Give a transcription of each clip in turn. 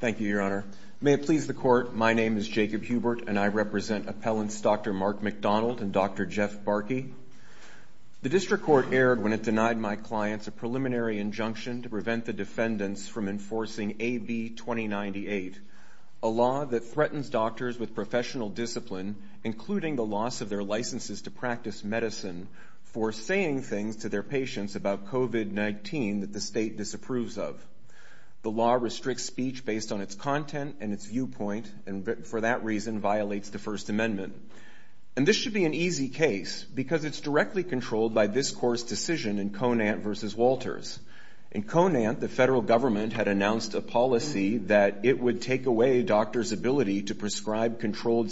Thank you, Your Honor. May it please the Court, my name is Jacob Hubert and I represent Appellants Dr. Mark McDonald and Dr. Jeff Barkey. The District Court erred when it denied my clients a preliminary injunction to prevent the defendants from enforcing AB 2098, a law that threatens doctors with professional discipline, including the loss of their licenses to practice medicine, for saying things to their patients about COVID-19 that the state disapproves of. The law restricts speech based on its content and its viewpoint, and for that reason violates the First Amendment. And this should be an easy case, because it's directly controlled by this Court's decision in Conant v. Walters. In Conant, the federal government had announced a policy that it would take away doctors' ability to prescribe medical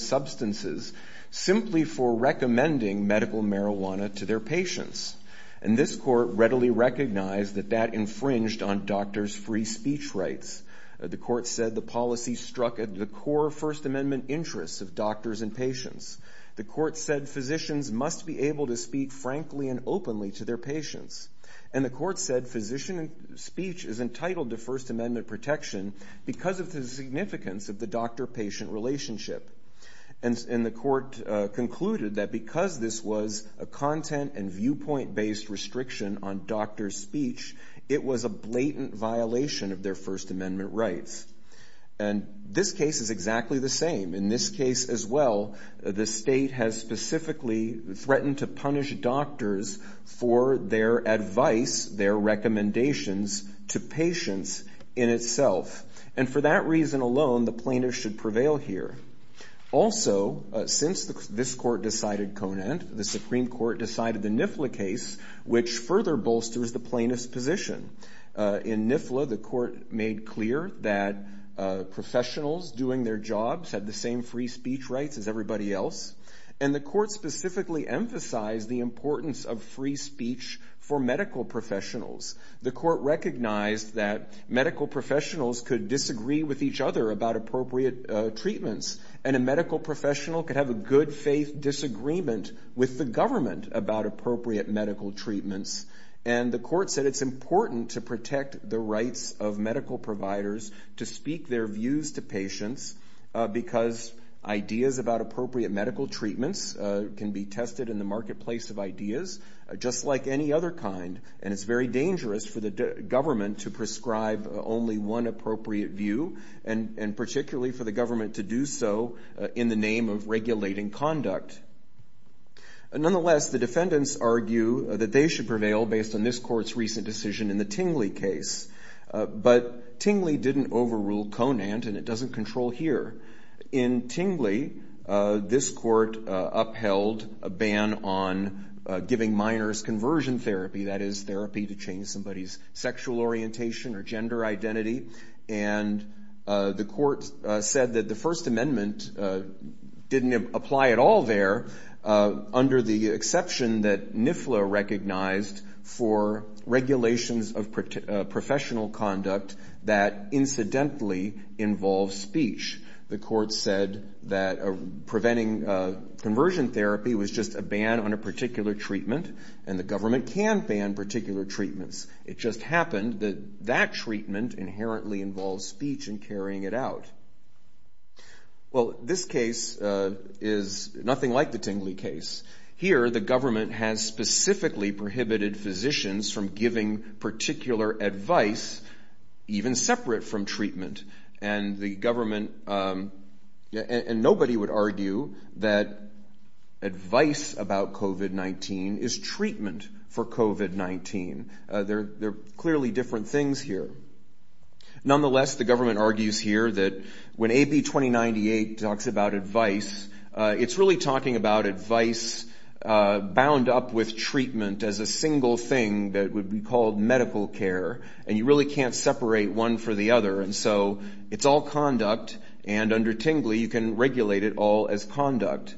marijuana to their patients. And this Court readily recognized that that infringed on doctors' free speech rights. The Court said the policy struck at the core First Amendment interests of doctors and patients. The Court said physicians must be able to speak frankly and openly to their patients. And the Court said physician speech is entitled to First Amendment protection because of the significance of the doctor-patient relationship. And the Court concluded that because this was a content and viewpoint-based restriction on doctors' speech, it was a blatant violation of their First Amendment rights. And this case is exactly the same. In this case as well, the state has specifically threatened to punish doctors for their advice, their recommendations, to patients in itself. And for that reason alone, the plaintiff should prevail here. Also, since this Court decided Conant, the Supreme Court decided the NIFLA case, which further bolsters the plaintiff's position. In NIFLA, the Court made clear that professionals doing their jobs had the same free speech rights as everybody else. And the Court specifically emphasized the importance of free speech for medical professionals. The Court recognized that medical professionals could speak to each other about appropriate treatments, and a medical professional could have a good-faith disagreement with the government about appropriate medical treatments. And the Court said it's important to protect the rights of medical providers to speak their views to patients because ideas about appropriate medical treatments can be tested in the marketplace of ideas, just like any other kind. And it's very dangerous for the government to prescribe only one appropriate view, and particularly for the government to do so in the name of regulating conduct. Nonetheless, the defendants argue that they should prevail based on this Court's recent decision in the Tingley case. But Tingley didn't overrule Conant, and it doesn't control here. In Tingley, this Court upheld a principle of conversion therapy, that is, therapy to change somebody's sexual orientation or gender identity. And the Court said that the First Amendment didn't apply at all there, under the exception that NIFLA recognized for regulations of professional conduct that incidentally involve speech. The Court said that preventing conversion therapy was just a ban on a particular treatment, and the government can ban particular treatments. It just happened that that treatment inherently involves speech and carrying it out. Well, this case is nothing like the Tingley case. Here, the government has specifically prohibited physicians from giving particular advice, even separate from treatment. And the government, and nobody would argue that advice about COVID-19 is truly treatment for COVID-19. They're clearly different things here. Nonetheless, the government argues here that when AB 2098 talks about advice, it's really talking about advice bound up with treatment as a single thing that would be called medical care, and you really can't separate one for the other. And so it's all conduct, and under Tingley, you can regulate it all as conduct.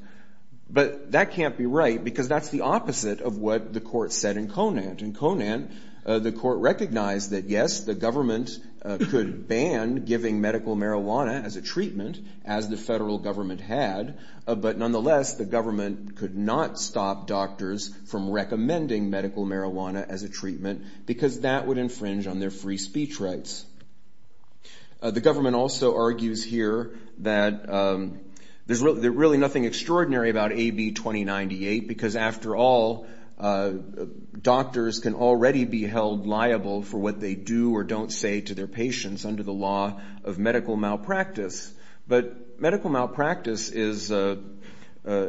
But that can't be right, because that's the opposite of what the Court said in Conant. In Conant, the Court recognized that yes, the government could ban giving medical marijuana as a treatment, as the federal government had, but nonetheless, the government could not stop doctors from recommending medical marijuana as a treatment, because that would infringe on their free speech rights. The government also said in AB 2098, because after all, doctors can already be held liable for what they do or don't say to their patients under the law of medical malpractice. But medical malpractice is a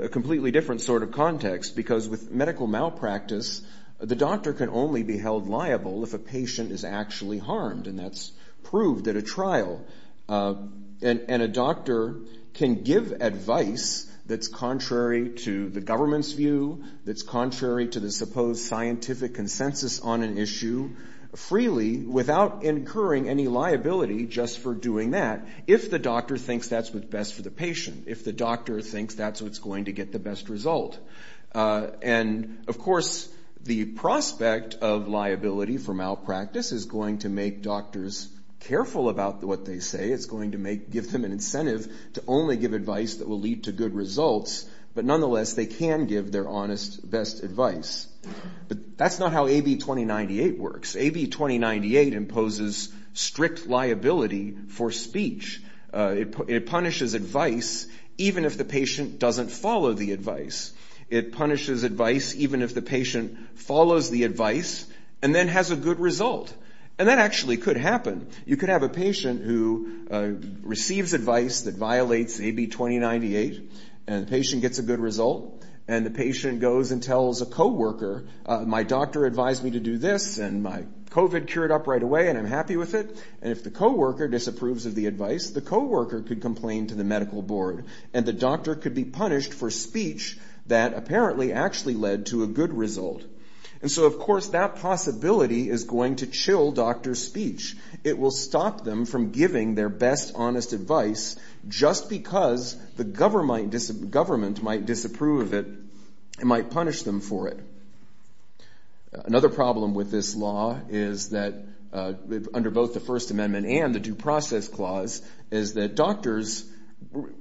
completely different sort of context, because with medical malpractice, the doctor can only be held liable if a patient is actually harmed, and that's proved at a trial. And a doctor can give advice that's contrary to the government's view, that's contrary to the supposed scientific consensus on an issue, freely, without incurring any liability just for doing that, if the doctor thinks that's what's best for the patient, if the doctor thinks that's what's going to get the best result. And of course, the prospect of liability for malpractice is going to make doctors careful about what they say. It's going to give them an incentive to only give advice that will lead to good results, but nonetheless, they can give their honest, best advice. But that's not how AB 2098 works. AB 2098 imposes strict liability for speech. It punishes advice even if the patient doesn't follow the advice. It punishes advice even if the patient follows the advice and then has a good result. And that actually could happen. You could have a patient who receives advice that violates AB 2098, and the patient gets a good result, and the patient goes and tells a co-worker, my doctor advised me to do this, and my COVID cured up right away, and I'm happy with it. And if the co-worker disapproves of the advice, the co-worker could complain to the medical board, and the doctor could be punished for speech that apparently actually led to a good result. And so, of course, that possibility is going to exist. It will stop them from giving their best, honest advice just because the government might disapprove of it and might punish them for it. Another problem with this law is that, under both the First Amendment and the Due Process Clause, is that doctors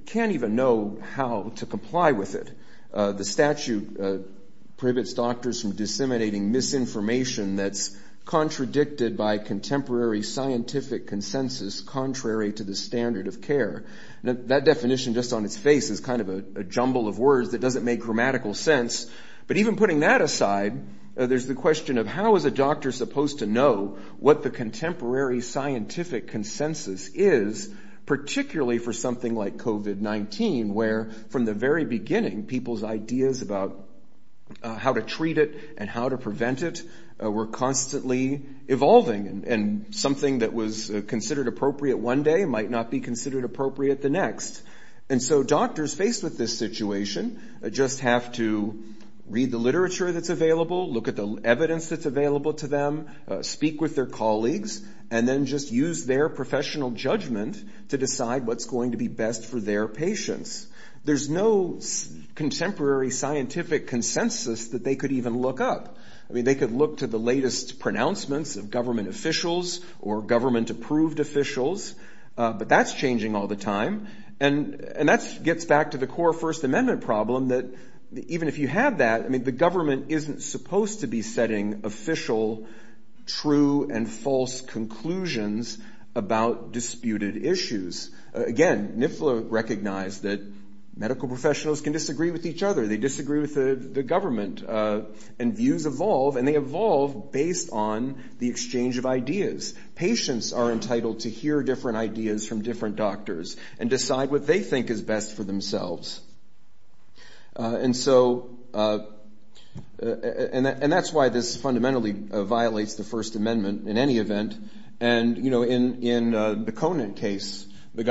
can't even know how to comply with it. The statute prohibits doctors from disseminating misinformation that's contradicted by contemporary scientific consensus contrary to the standard of care. That definition, just on its face, is kind of a jumble of words that doesn't make grammatical sense. But even putting that aside, there's the question of how is a doctor supposed to know what the contemporary scientific consensus is, particularly for something like COVID-19, where, from the very beginning, people's ideas about how to treat it and how to prevent it were constantly evolving, and something that was considered appropriate one day might not be considered appropriate the next. And so doctors faced with this situation just have to read the literature that's available, look at the evidence that's available to them, speak with their colleagues, and then just use their professional judgment to decide what's going to be best for their patients. There's no contemporary scientific consensus that they could even look up. I mean, they could look to the latest pronouncements of government officials or government-approved officials, but that's changing all the time. And that gets back to the core First Amendment problem, that even if you have that, I mean, the government isn't supposed to be setting official true and false conclusions about disputed issues. Again, NIFLA recognized that medical professionals can disagree with each other. They disagree with the government, and views evolve, and they evolve based on the exchange of ideas. Patients are entitled to hear different ideas from different doctors and decide what they think is best for themselves. And so, and that's why this fundamentally violates the First Amendment in any event. And, you know, in the Conant case, the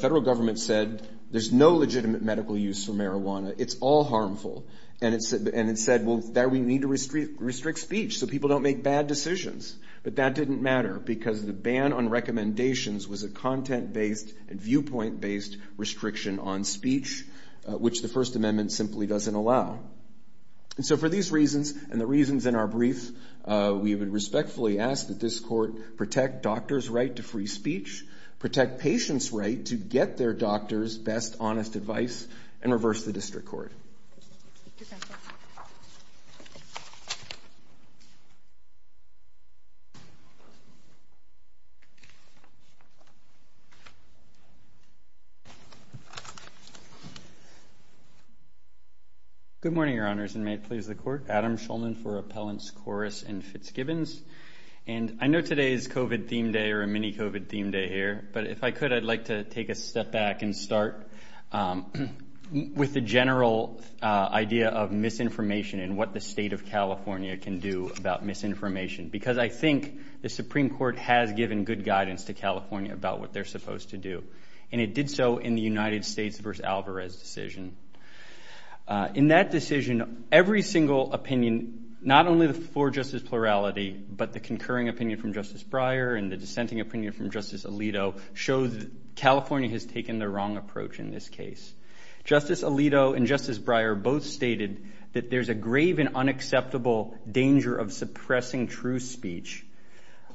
federal government said there's no legitimate medical use for marijuana. It's all harmful. And it said, well, there we need to restrict speech so people don't make bad decisions. But that didn't matter because the ban on recommendations was a content-based and viewpoint-based restriction on speech, which the First Amendment simply doesn't allow. And so for these reasons, and the reasons in our brief, we would respectfully ask that this court protect doctors' right to free speech, protect patients' right to get their doctors' best honest advice, and reverse the district court. Good morning, Your Honors, and may it please the Court. Adam Shulman for Appellants Corris and Fitzgibbons. And I know today is COVID theme day or a mini-COVID theme day here, but if I could, I'd like to take a step back and start with the general idea of misinformation and what the state of California can do about misinformation. Because I think the Supreme Court has given good guidance to this decision. In that decision, every single opinion, not only for justice plurality, but the concurring opinion from Justice Breyer and the dissenting opinion from Justice Alito, shows California has taken the wrong approach in this case. Justice Alito and Justice Breyer both stated that there's a grave and unacceptable danger of suppressing true speech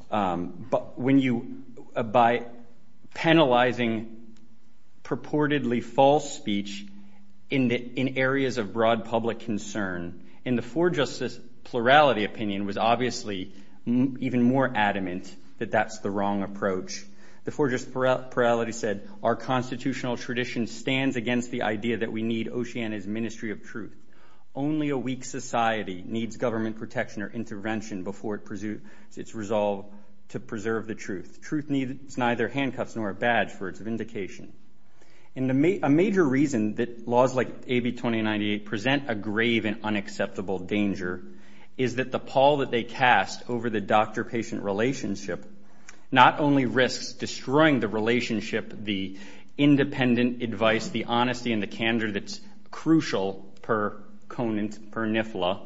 by penalizing purportedly false speech in areas of broad public concern. And the for justice plurality opinion was obviously even more adamant that that's the wrong approach. The for justice plurality said, our constitutional tradition stands against the idea that we need Oceania's ministry of truth. Only a weak society needs government protection or intervention before its resolve to preserve the truth. Truth needs neither handcuffs nor a badge for its vindication. And a major reason that laws like AB 2098 present a grave and unacceptable danger is that the pall that they cast over the doctor-patient relationship not only risks destroying the relationship, the independent advice, the honesty, and the candor that's crucial per conant, per nifla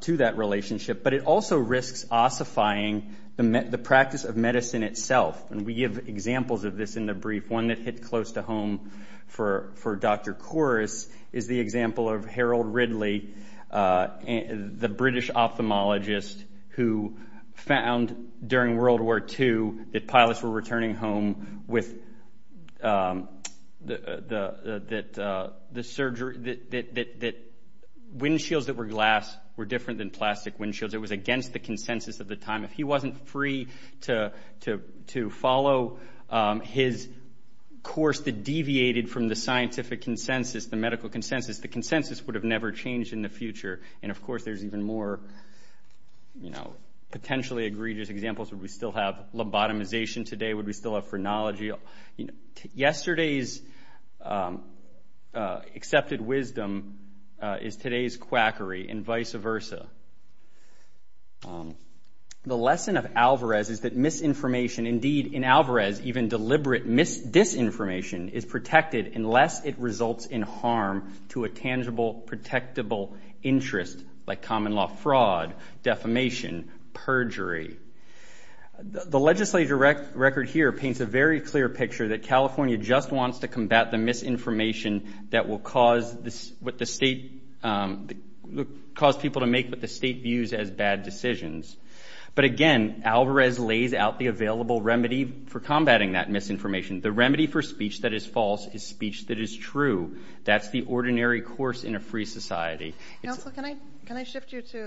to that relationship, but it also risks ossifying the practice of truth. And one of the great examples of this in the brief, one that hit close to home for Dr. Kouros, is the example of Harold Ridley, the British ophthalmologist who found during World War II that pilots were returning home with the surgery, that windshields that were glass were different than plastic windshields. It was so his course that deviated from the scientific consensus, the medical consensus, the consensus would have never changed in the future. And of course there's even more, you know, potentially egregious examples. Would we still have lobotomization today? Would we still have phrenology? Yesterday's accepted wisdom is today's quackery and vice versa. The lesson of Alvarez is that misinformation, indeed in Alvarez, even deliberate disinformation, is protected unless it results in harm to a tangible, protectable interest like common law fraud, defamation, perjury. The legislature record here paints a very clear picture that California just wants to combat the misinformation that will cause people to make what the state views as bad decisions. But again, Alvarez lays out the available remedy for combating that misinformation. The remedy for speech that is false is speech that is true. That's the ordinary course in a free society. Absolutely. Well, if you decide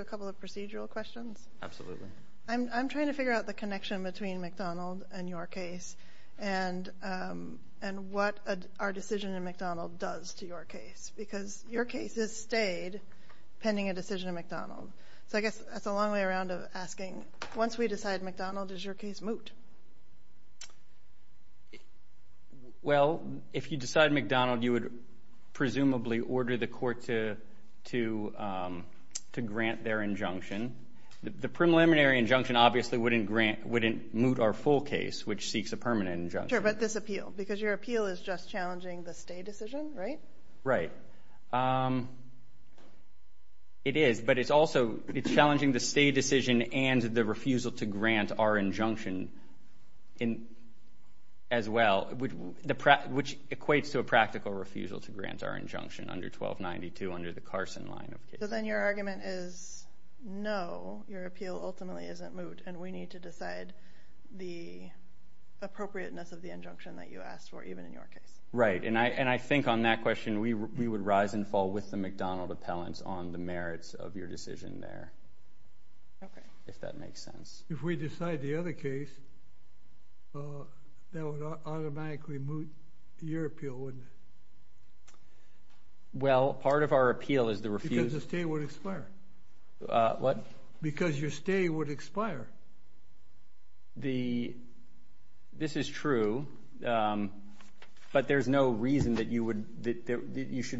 McDonald, you would presumably order the court to grant their injunction. The preliminary injunction obviously wouldn't grant, wouldn't moot our full case, which seeks a permanent injunction. Sure, but this appeal, because your appeal is just challenging the stay decision, right? It is, but it's also challenging the stay decision and the refusal to grant our injunction as well, which equates to a practical refusal to grant our injunction under 1292 under the Carson line of cases. Then your argument is no, your appeal ultimately isn't moot and we need to decide the other case. If we decide the other case, that would automatically moot your appeal, wouldn't it? Well, part of our appeal is the refusal. Because the stay would expire. What? You should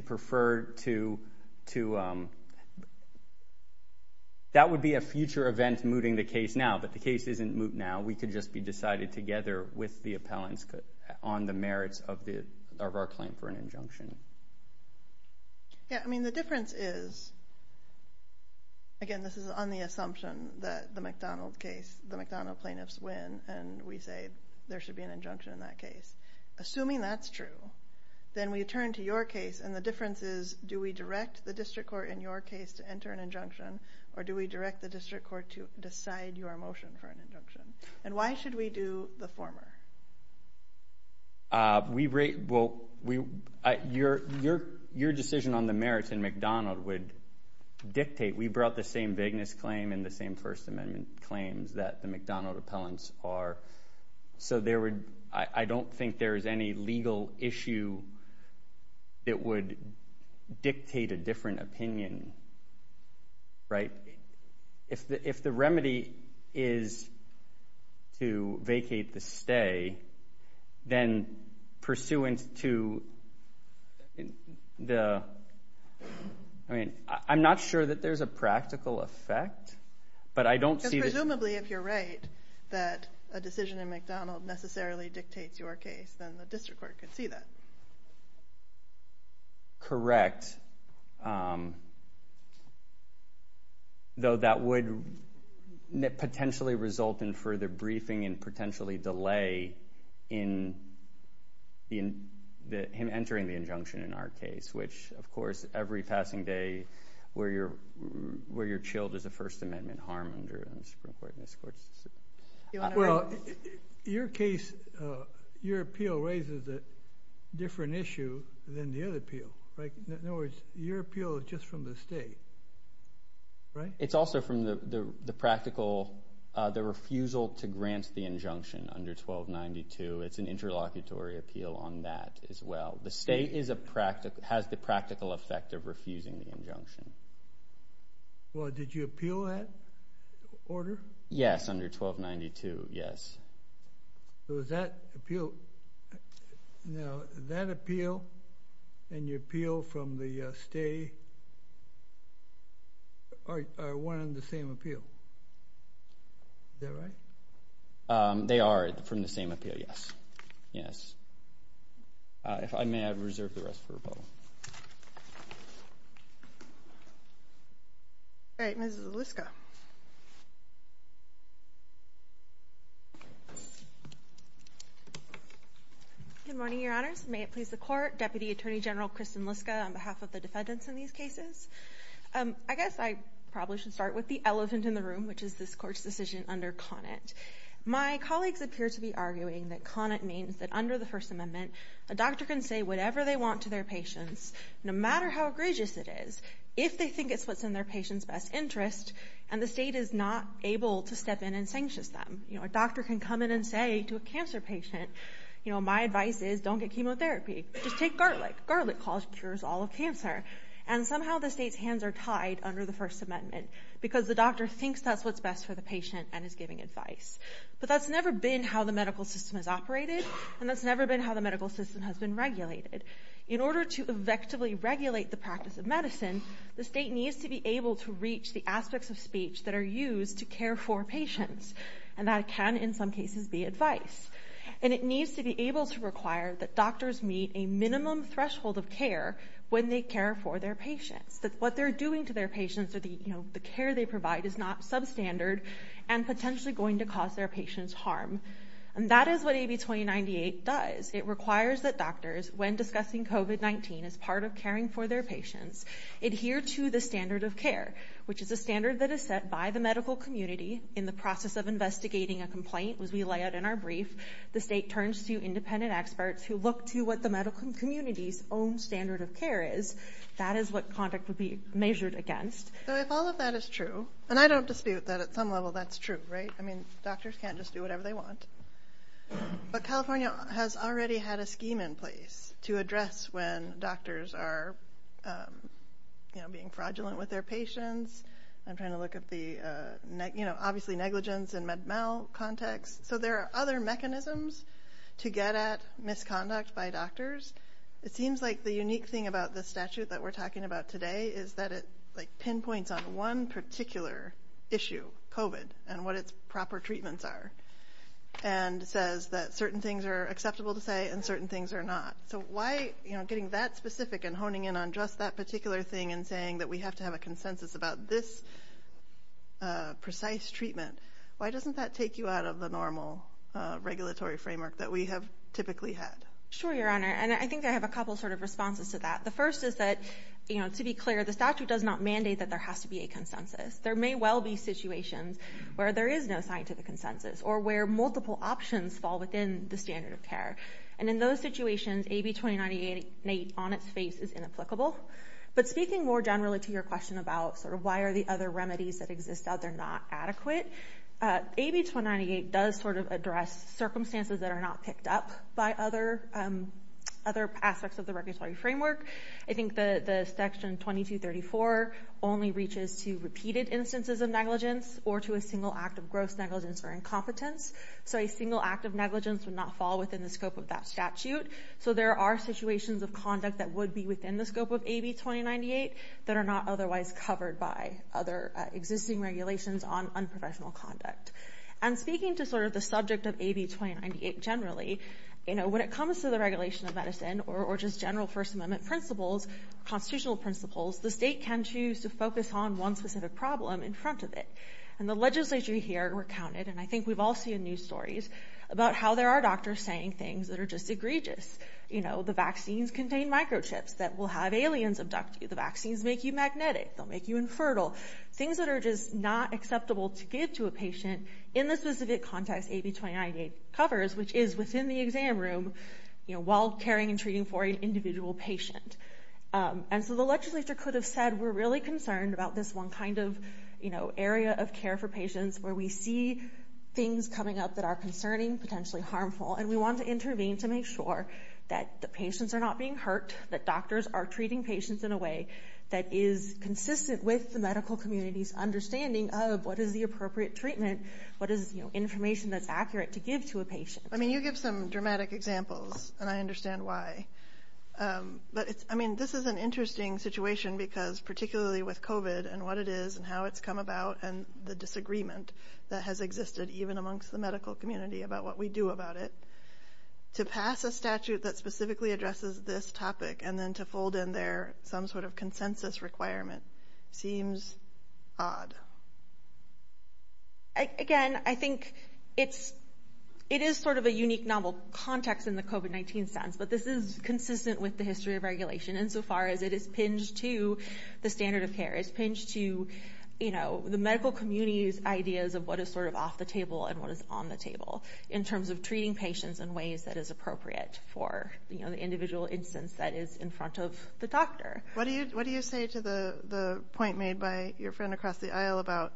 prefer to... That would be a future event mooting the case now, but the case isn't moot now. We could just be decided together with the appellants on the merits of our claim for an injunction. The difference is, again, this is on the assumption that the McDonald case, the McDonald appellant, is going to go to your case, and the difference is do we direct the district court in your case to enter an injunction, or do we direct the district court to decide your motion for an injunction? Your decision on the merits in McDonald would dictate... We brought the same vagueness claim and the same First Amendment claims that the McDonald case would dictate a different opinion. If the remedy is to vacate the stay, then pursuant to the... I'm not sure that there's a practical effect, but I don't see the... Presumably, if you're right that a decision in McDonald necessarily dictates your case, then the district court could see that. Correct, though that would potentially result in further briefing and potentially delay in him entering the injunction in our case, which, of course, every passing day where you're chilled as a First Amendment harm under the Supreme Court and this court's decision. Your appeal raises a different issue than the other appeal. In other words, your appeal is just from the state, right? It's also from the refusal to grant the injunction under 1292. It's an interlocutory appeal on that as well. The state has the practical effect of refusing the injunction. Well, did you appeal that order? Yes, under 1292, yes. Does that appeal and your appeal from the state are one and the same appeal? Is that right? They are from the same appeal, yes. If I may, I reserve the rest for rebuttal. All right, Ms. Zuliska. Good morning, Your Honors. May it please the Court. Thank you, Your Honor. Thank you, Your Honor. Thank you, Your Honor. But California has already had a scheme in place to address when doctors are being fraudulent with their patients. I'm trying to look at the obviously negligence and med mal context. So there are other mechanisms to get at misconduct by doctors. It seems like the unique thing about the statute that we're talking about today is that it pinpoints on one particular issue, COVID, and what its proper treatments are and says that certain things are acceptable to say and certain things are not. So why getting that specific and honing in on just that particular thing and saying that we have to have a consensus about this precise treatment, why doesn't that take you out of the normal regulatory framework that we have typically had? Sure, Your Honor. And I think I have a couple sort of responses to that. The first is that, to be clear, the statute does not mandate that there has to be a consensus. There may well be situations where there is no scientific consensus or where multiple options fall within the standard of care. And in those situations, AB 2098 on its face is inapplicable. But speaking more generally to your question about sort of why are the other remedies that exist out there not adequate, AB 2098 does sort of address circumstances that are not picked up by other aspects of the regulatory framework. I think the section 2234 only reaches to repeated instances of negligence or to a single act of gross negligence or incompetence. So a single act of negligence would not fall within the scope of that statute. So there are situations of conduct that would be within the scope of AB 2098 that are not otherwise covered by other existing regulations on unprofessional conduct. And speaking to sort of the subject of AB 2098 generally, you know, when it comes to the regulation of medicine or just general First Amendment principles, constitutional principles, the state can choose to focus on one specific problem in front of it. And the legislature here recounted, and I think we've all seen news stories about how there are doctors saying things that are just egregious. You know, the vaccines contain microchips that will have aliens abduct you. The vaccines make you magnetic. They'll make you infertile. Things that are just not acceptable to give to a patient in the specific context AB 2098 covers, which is within the exam room, you know, while caring and treating for an individual patient. And so the legislature could have said, we're really concerned about this one kind of, you know, area of care for patients where we see things coming up that are concerning, potentially harmful, and we want to intervene to make sure that the patients are not being hurt, that doctors are treating patients in a way that is consistent with the medical community's understanding of what is the appropriate treatment, what is, you know, information that's accurate to give to a patient. I mean, you give some dramatic examples, and I understand why. But I mean, this is an interesting situation because particularly with COVID and what it is and how it's come about and the disagreement that has existed even amongst the medical community about what we do about it. To pass a statute that specifically addresses this topic and then to fold in there some sort of consensus requirement seems odd. Again, I think it is sort of a unique novel context in the COVID-19 sense, but this is consistent with the history of regulation insofar as it is pinged to the standard of care. It's pinged to, you know, the medical community's ideas of what is sort of off the table and what is on the table in terms of treating patients in ways that is appropriate for the individual instance that is in front of the doctor. What do you say to the point made by your friend across the aisle about,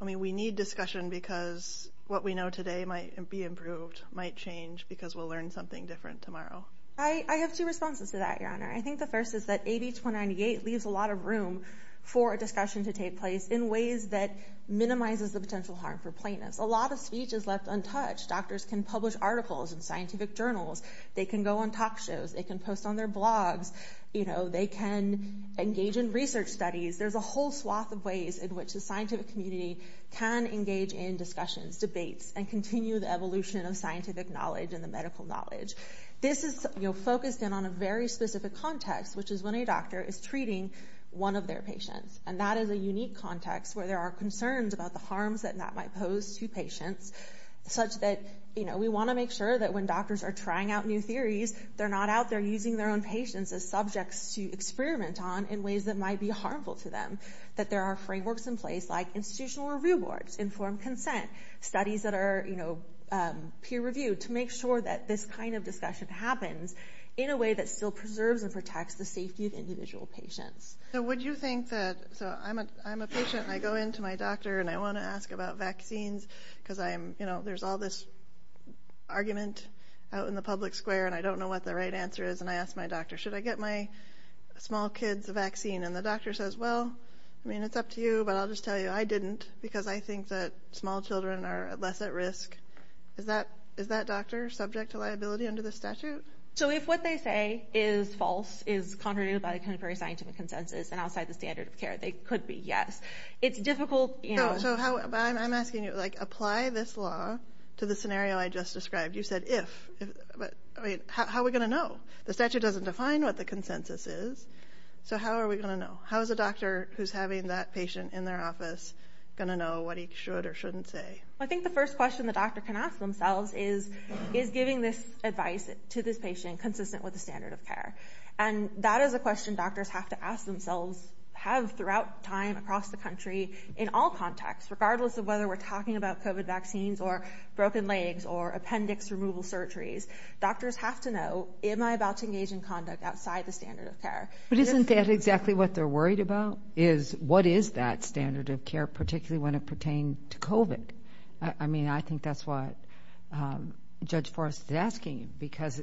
I mean, we need discussion because what we know today might be improved, might change, because we'll learn something different tomorrow? I think the first is that AB 298 leaves a lot of room for a discussion to take place in ways that minimizes the potential harm for plaintiffs. A lot of speech is left untouched. Doctors can publish articles in scientific journals. They can go on talk shows. They can post on their blogs. You know, they can engage in research studies. There's a whole swath of ways in which the scientific community can engage in discussions, debates, and continue the evolution of scientific knowledge and the medical knowledge. This is focused in on a very specific context, which is when a doctor is treating one of their patients, and that is a unique context where there are concerns about the harms that that might pose to patients, such that, you know, we want to make sure that when doctors are trying out new theories, they're not out there using their own patients as subjects to experiment on in ways that might be harmful to them, that there are frameworks in place like institutional review boards, informed consent, studies that are, you know, peer-reviewed to make sure that this kind of discussion happens in a way that still preserves and protects the safety of individual patients. So would you think that, so I'm a patient, and I go in to my doctor, and I want to ask about vaccines because I'm, you know, there's all this argument out in the public square, and I don't know what the right answer is, and I ask my doctor, should I get my small kids a vaccine? And the doctor says, well, I mean, it's up to you, but I'll just tell you I didn't because I think that small children are less at risk. Is that doctor subject to liability under the statute? So if what they say is false, is contrary to the scientific consensus and outside the standard of care, they could be, yes. It's difficult, you know. But I'm asking you, like, apply this law to the scenario I just described. You said if, but, I mean, how are we going to know? The statute doesn't define what the consensus is, so how are we going to know? How is a doctor who's having that patient in their office going to know what he should or shouldn't say? Well, I think the first question the doctor can ask themselves is, is giving this advice to this patient consistent with the standard of care? And that is a question doctors have to ask themselves, have throughout time across the country, in all contexts, regardless of whether we're talking about COVID vaccines or broken legs or appendix removal surgeries. Doctors have to know, am I about to engage in conduct outside the standard of care? But isn't that exactly what they're worried about, is what is that standard of care, particularly when it pertained to COVID? I mean, I think that's what Judge Forrest is asking because,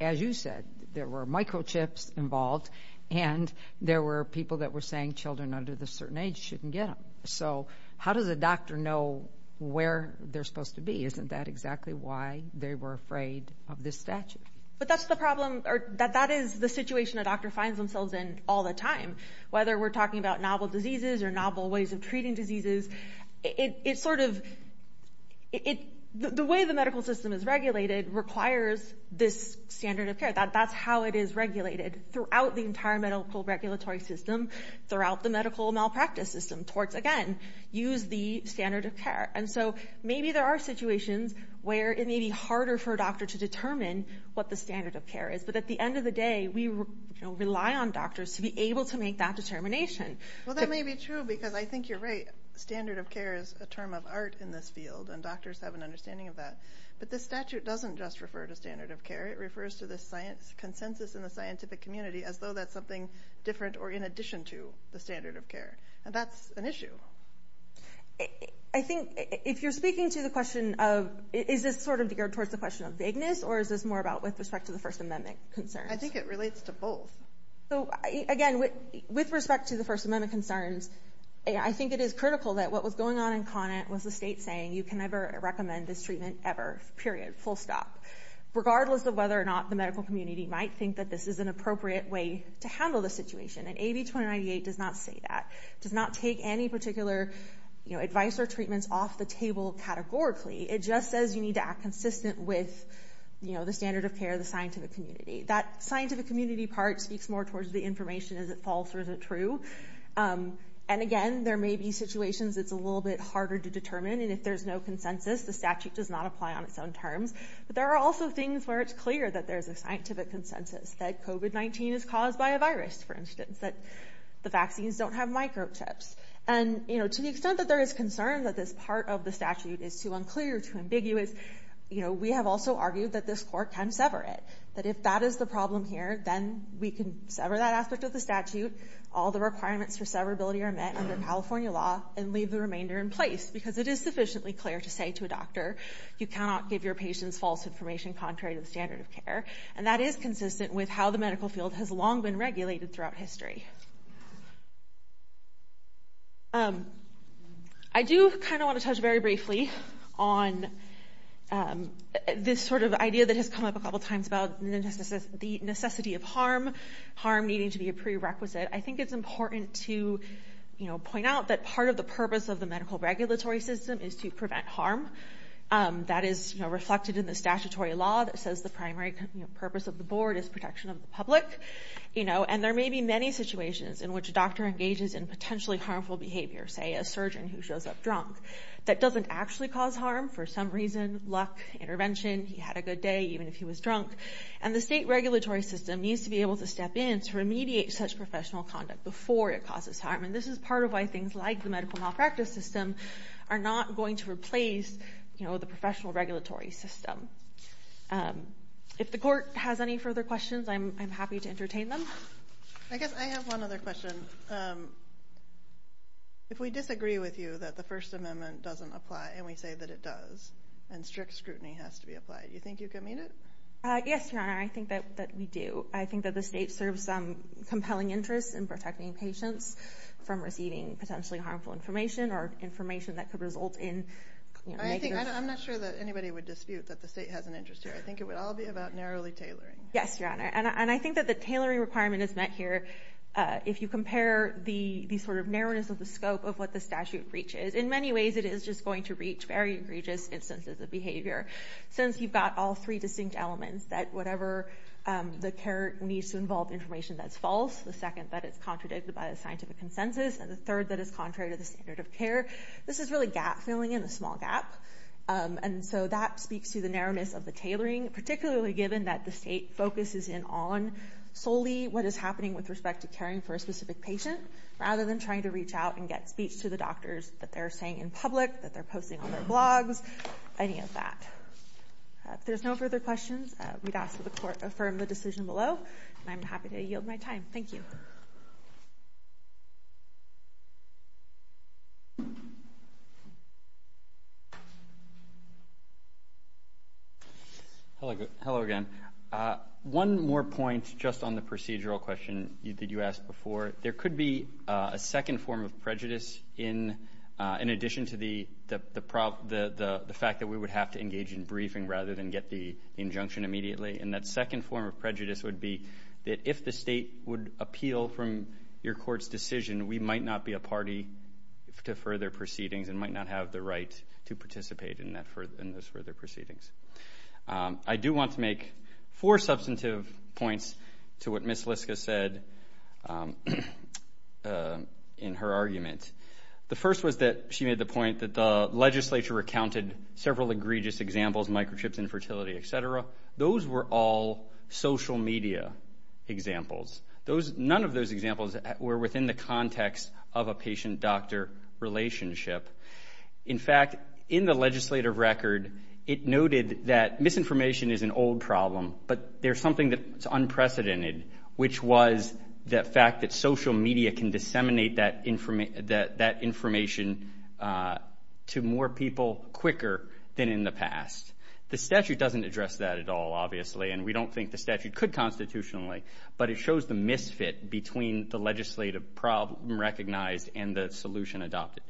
as you said, there were microchips involved and there were people that were saying children under this certain age shouldn't get them. So how does a doctor know where they're supposed to be? Isn't that exactly why they were afraid of this statute? But that's the problem, or that is the situation a doctor finds themselves in all the time. Whether we're talking about novel diseases or novel ways of treating diseases, it sort of, the way the medical system is regulated requires this standard of care. That's how it is regulated throughout the entire medical regulatory system, throughout the medical malpractice system towards, again, use the standard of care. And so maybe there are situations where it may be harder for a doctor to determine what the standard of care is. But at the end of the day, we rely on doctors to be able to make that determination. Well, that may be true because I think you're right. Standard of care is a term of art in this field, and doctors have an understanding of that. But this statute doesn't just refer to standard of care. It refers to the science consensus in the scientific community as though that's something different or in addition to the standard of care. And that's an issue. I think if you're speaking to the question of, is this sort of geared towards the question of vagueness or is this more about with respect to the First Amendment concerns? I think it relates to both. So, again, with respect to the First Amendment concerns, I think it is critical that what was going on in Conant was the state saying, you can never recommend this treatment ever, period, full stop. Regardless of whether or not the medical community might think that this is an appropriate way to handle the situation. And AB 2098 does not say that. It does not take any particular advice or treatments off the table categorically. It just says you need to act consistent with the standard of care of the scientific community. That scientific community part speaks more towards the information, is it false or is it true? And, again, there may be situations it's a little bit harder to determine, and if there's no consensus, the statute does not apply on its own terms. But there are also things where it's clear that there's a scientific consensus, that COVID-19 is caused by a virus, for instance, that the vaccines don't have microchips. And, you know, to the extent that there is concern that this part of the statute is too unclear, too ambiguous, you know, we have also argued that this court can sever it. That if that is the problem here, then we can sever that aspect of the statute. All the requirements for severability are met under California law and leave the remainder in place because it is sufficiently clear to say to a doctor, you cannot give your patients false information contrary to the standard of care. And that is consistent with how the medical field has long been regulated throughout history. I do kind of want to touch very briefly on this sort of idea that has come up a couple times about the necessity of harm, harm needing to be a prerequisite. I think it's important to, you know, point out that part of the purpose of the medical regulatory system is to prevent harm. That is reflected in the statutory law that says the primary purpose of the board is protection of the public. You know, and there may be many situations in which a doctor engages in potentially harmful behavior, say a surgeon who shows up drunk, that doesn't actually cause harm. For some reason, luck, intervention, he had a good day even if he was drunk. And the state regulatory system needs to be able to step in to remediate such professional conduct before it causes harm, and this is part of why things like the medical malpractice system are not going to replace, you know, the professional regulatory system. If the court has any further questions, I'm happy to entertain them. I guess I have one other question. If we disagree with you that the First Amendment doesn't apply, and we say that it does, and strict scrutiny has to be applied, do you think you can meet it? Yes, Your Honor, I think that we do. I think that the state serves compelling interests in protecting patients from receiving potentially harmful information or information that could result in negative results. I'm not sure that anybody would dispute that the state has an interest here. I think it would all be about narrowly tailoring. Yes, Your Honor, and I think that the tailoring requirement is met here. If you compare the sort of narrowness of the scope of what the statute reaches, in many ways it is just going to reach very egregious instances of behavior, since you've got all three distinct elements that whatever the care needs to involve information that's false, the second that it's contradicted by a scientific consensus, and the third that it's contrary to the standard of care. This is really gap-filling in a small gap, and so that speaks to the narrowness of the tailoring, particularly given that the state focuses in on solely what is happening with respect to caring for a specific patient rather than trying to reach out and get speech to the doctors that they're saying in public, that they're posting on their blogs, any of that. If there's no further questions, we'd ask that the Court affirm the decision below, and I'm happy to yield my time. Thank you. Hello again. One more point just on the procedural question that you asked before. There could be a second form of prejudice in addition to the fact that we would have to engage in briefing rather than get the injunction immediately, and that second form of prejudice would be that if the state would appeal from your Court's decision, we might not be a party to further proceedings and might not have the right to participate in those further proceedings. I do want to make four substantive points to what Ms. Liska said in her argument. The first was that she made the point that the legislature recounted several egregious examples, microchips, infertility, et cetera. Those were all social media examples. None of those examples were within the context of a patient-doctor relationship. In fact, in the legislative record, it noted that misinformation is an old problem, but there's something that's unprecedented, which was the fact that social media can disseminate that information to more people quicker than in the past. The statute doesn't address that at all, obviously, and we don't think the statute could constitutionally, but it shows the misfit between the legislative problem recognized and the solution adopted.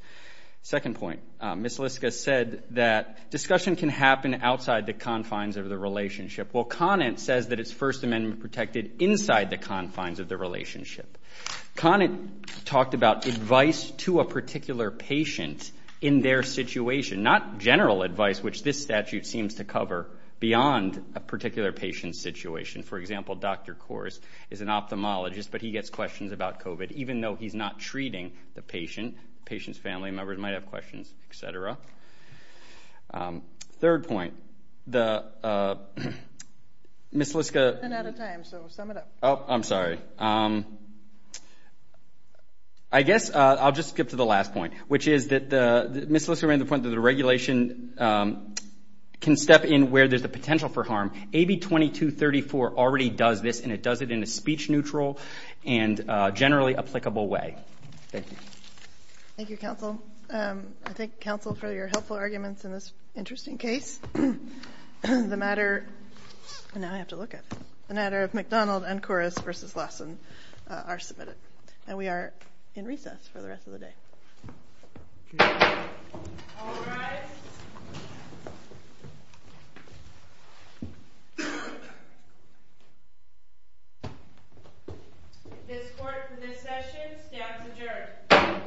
Second point, Ms. Liska said that discussion can happen outside the confines of the relationship. Well, Conant says that it's First Amendment-protected inside the confines of the relationship. Conant talked about advice to a particular patient in their situation, not general advice, which this statute seems to cover beyond a particular patient's situation. For example, Dr. Coors is an ophthalmologist, but he gets questions about COVID, even though he's not treating the patient. The patient's family members might have questions, et cetera. Third point, Ms. Liska- I'm out of time, so sum it up. I'm sorry. I guess I'll just skip to the last point, which is that Ms. Liska made the point that the regulation can step in where there's a potential for harm. AB 2234 already does this, and it does it in a speech-neutral and generally applicable way. Thank you. Thank you, Counsel. I thank Counsel for your helpful arguments in this interesting case. The matter-and now I have to look at it-the matter of McDonald and Coors v. Lawson are submitted, and we are in recess for the rest of the day. All rise. This court for this session stands adjourned.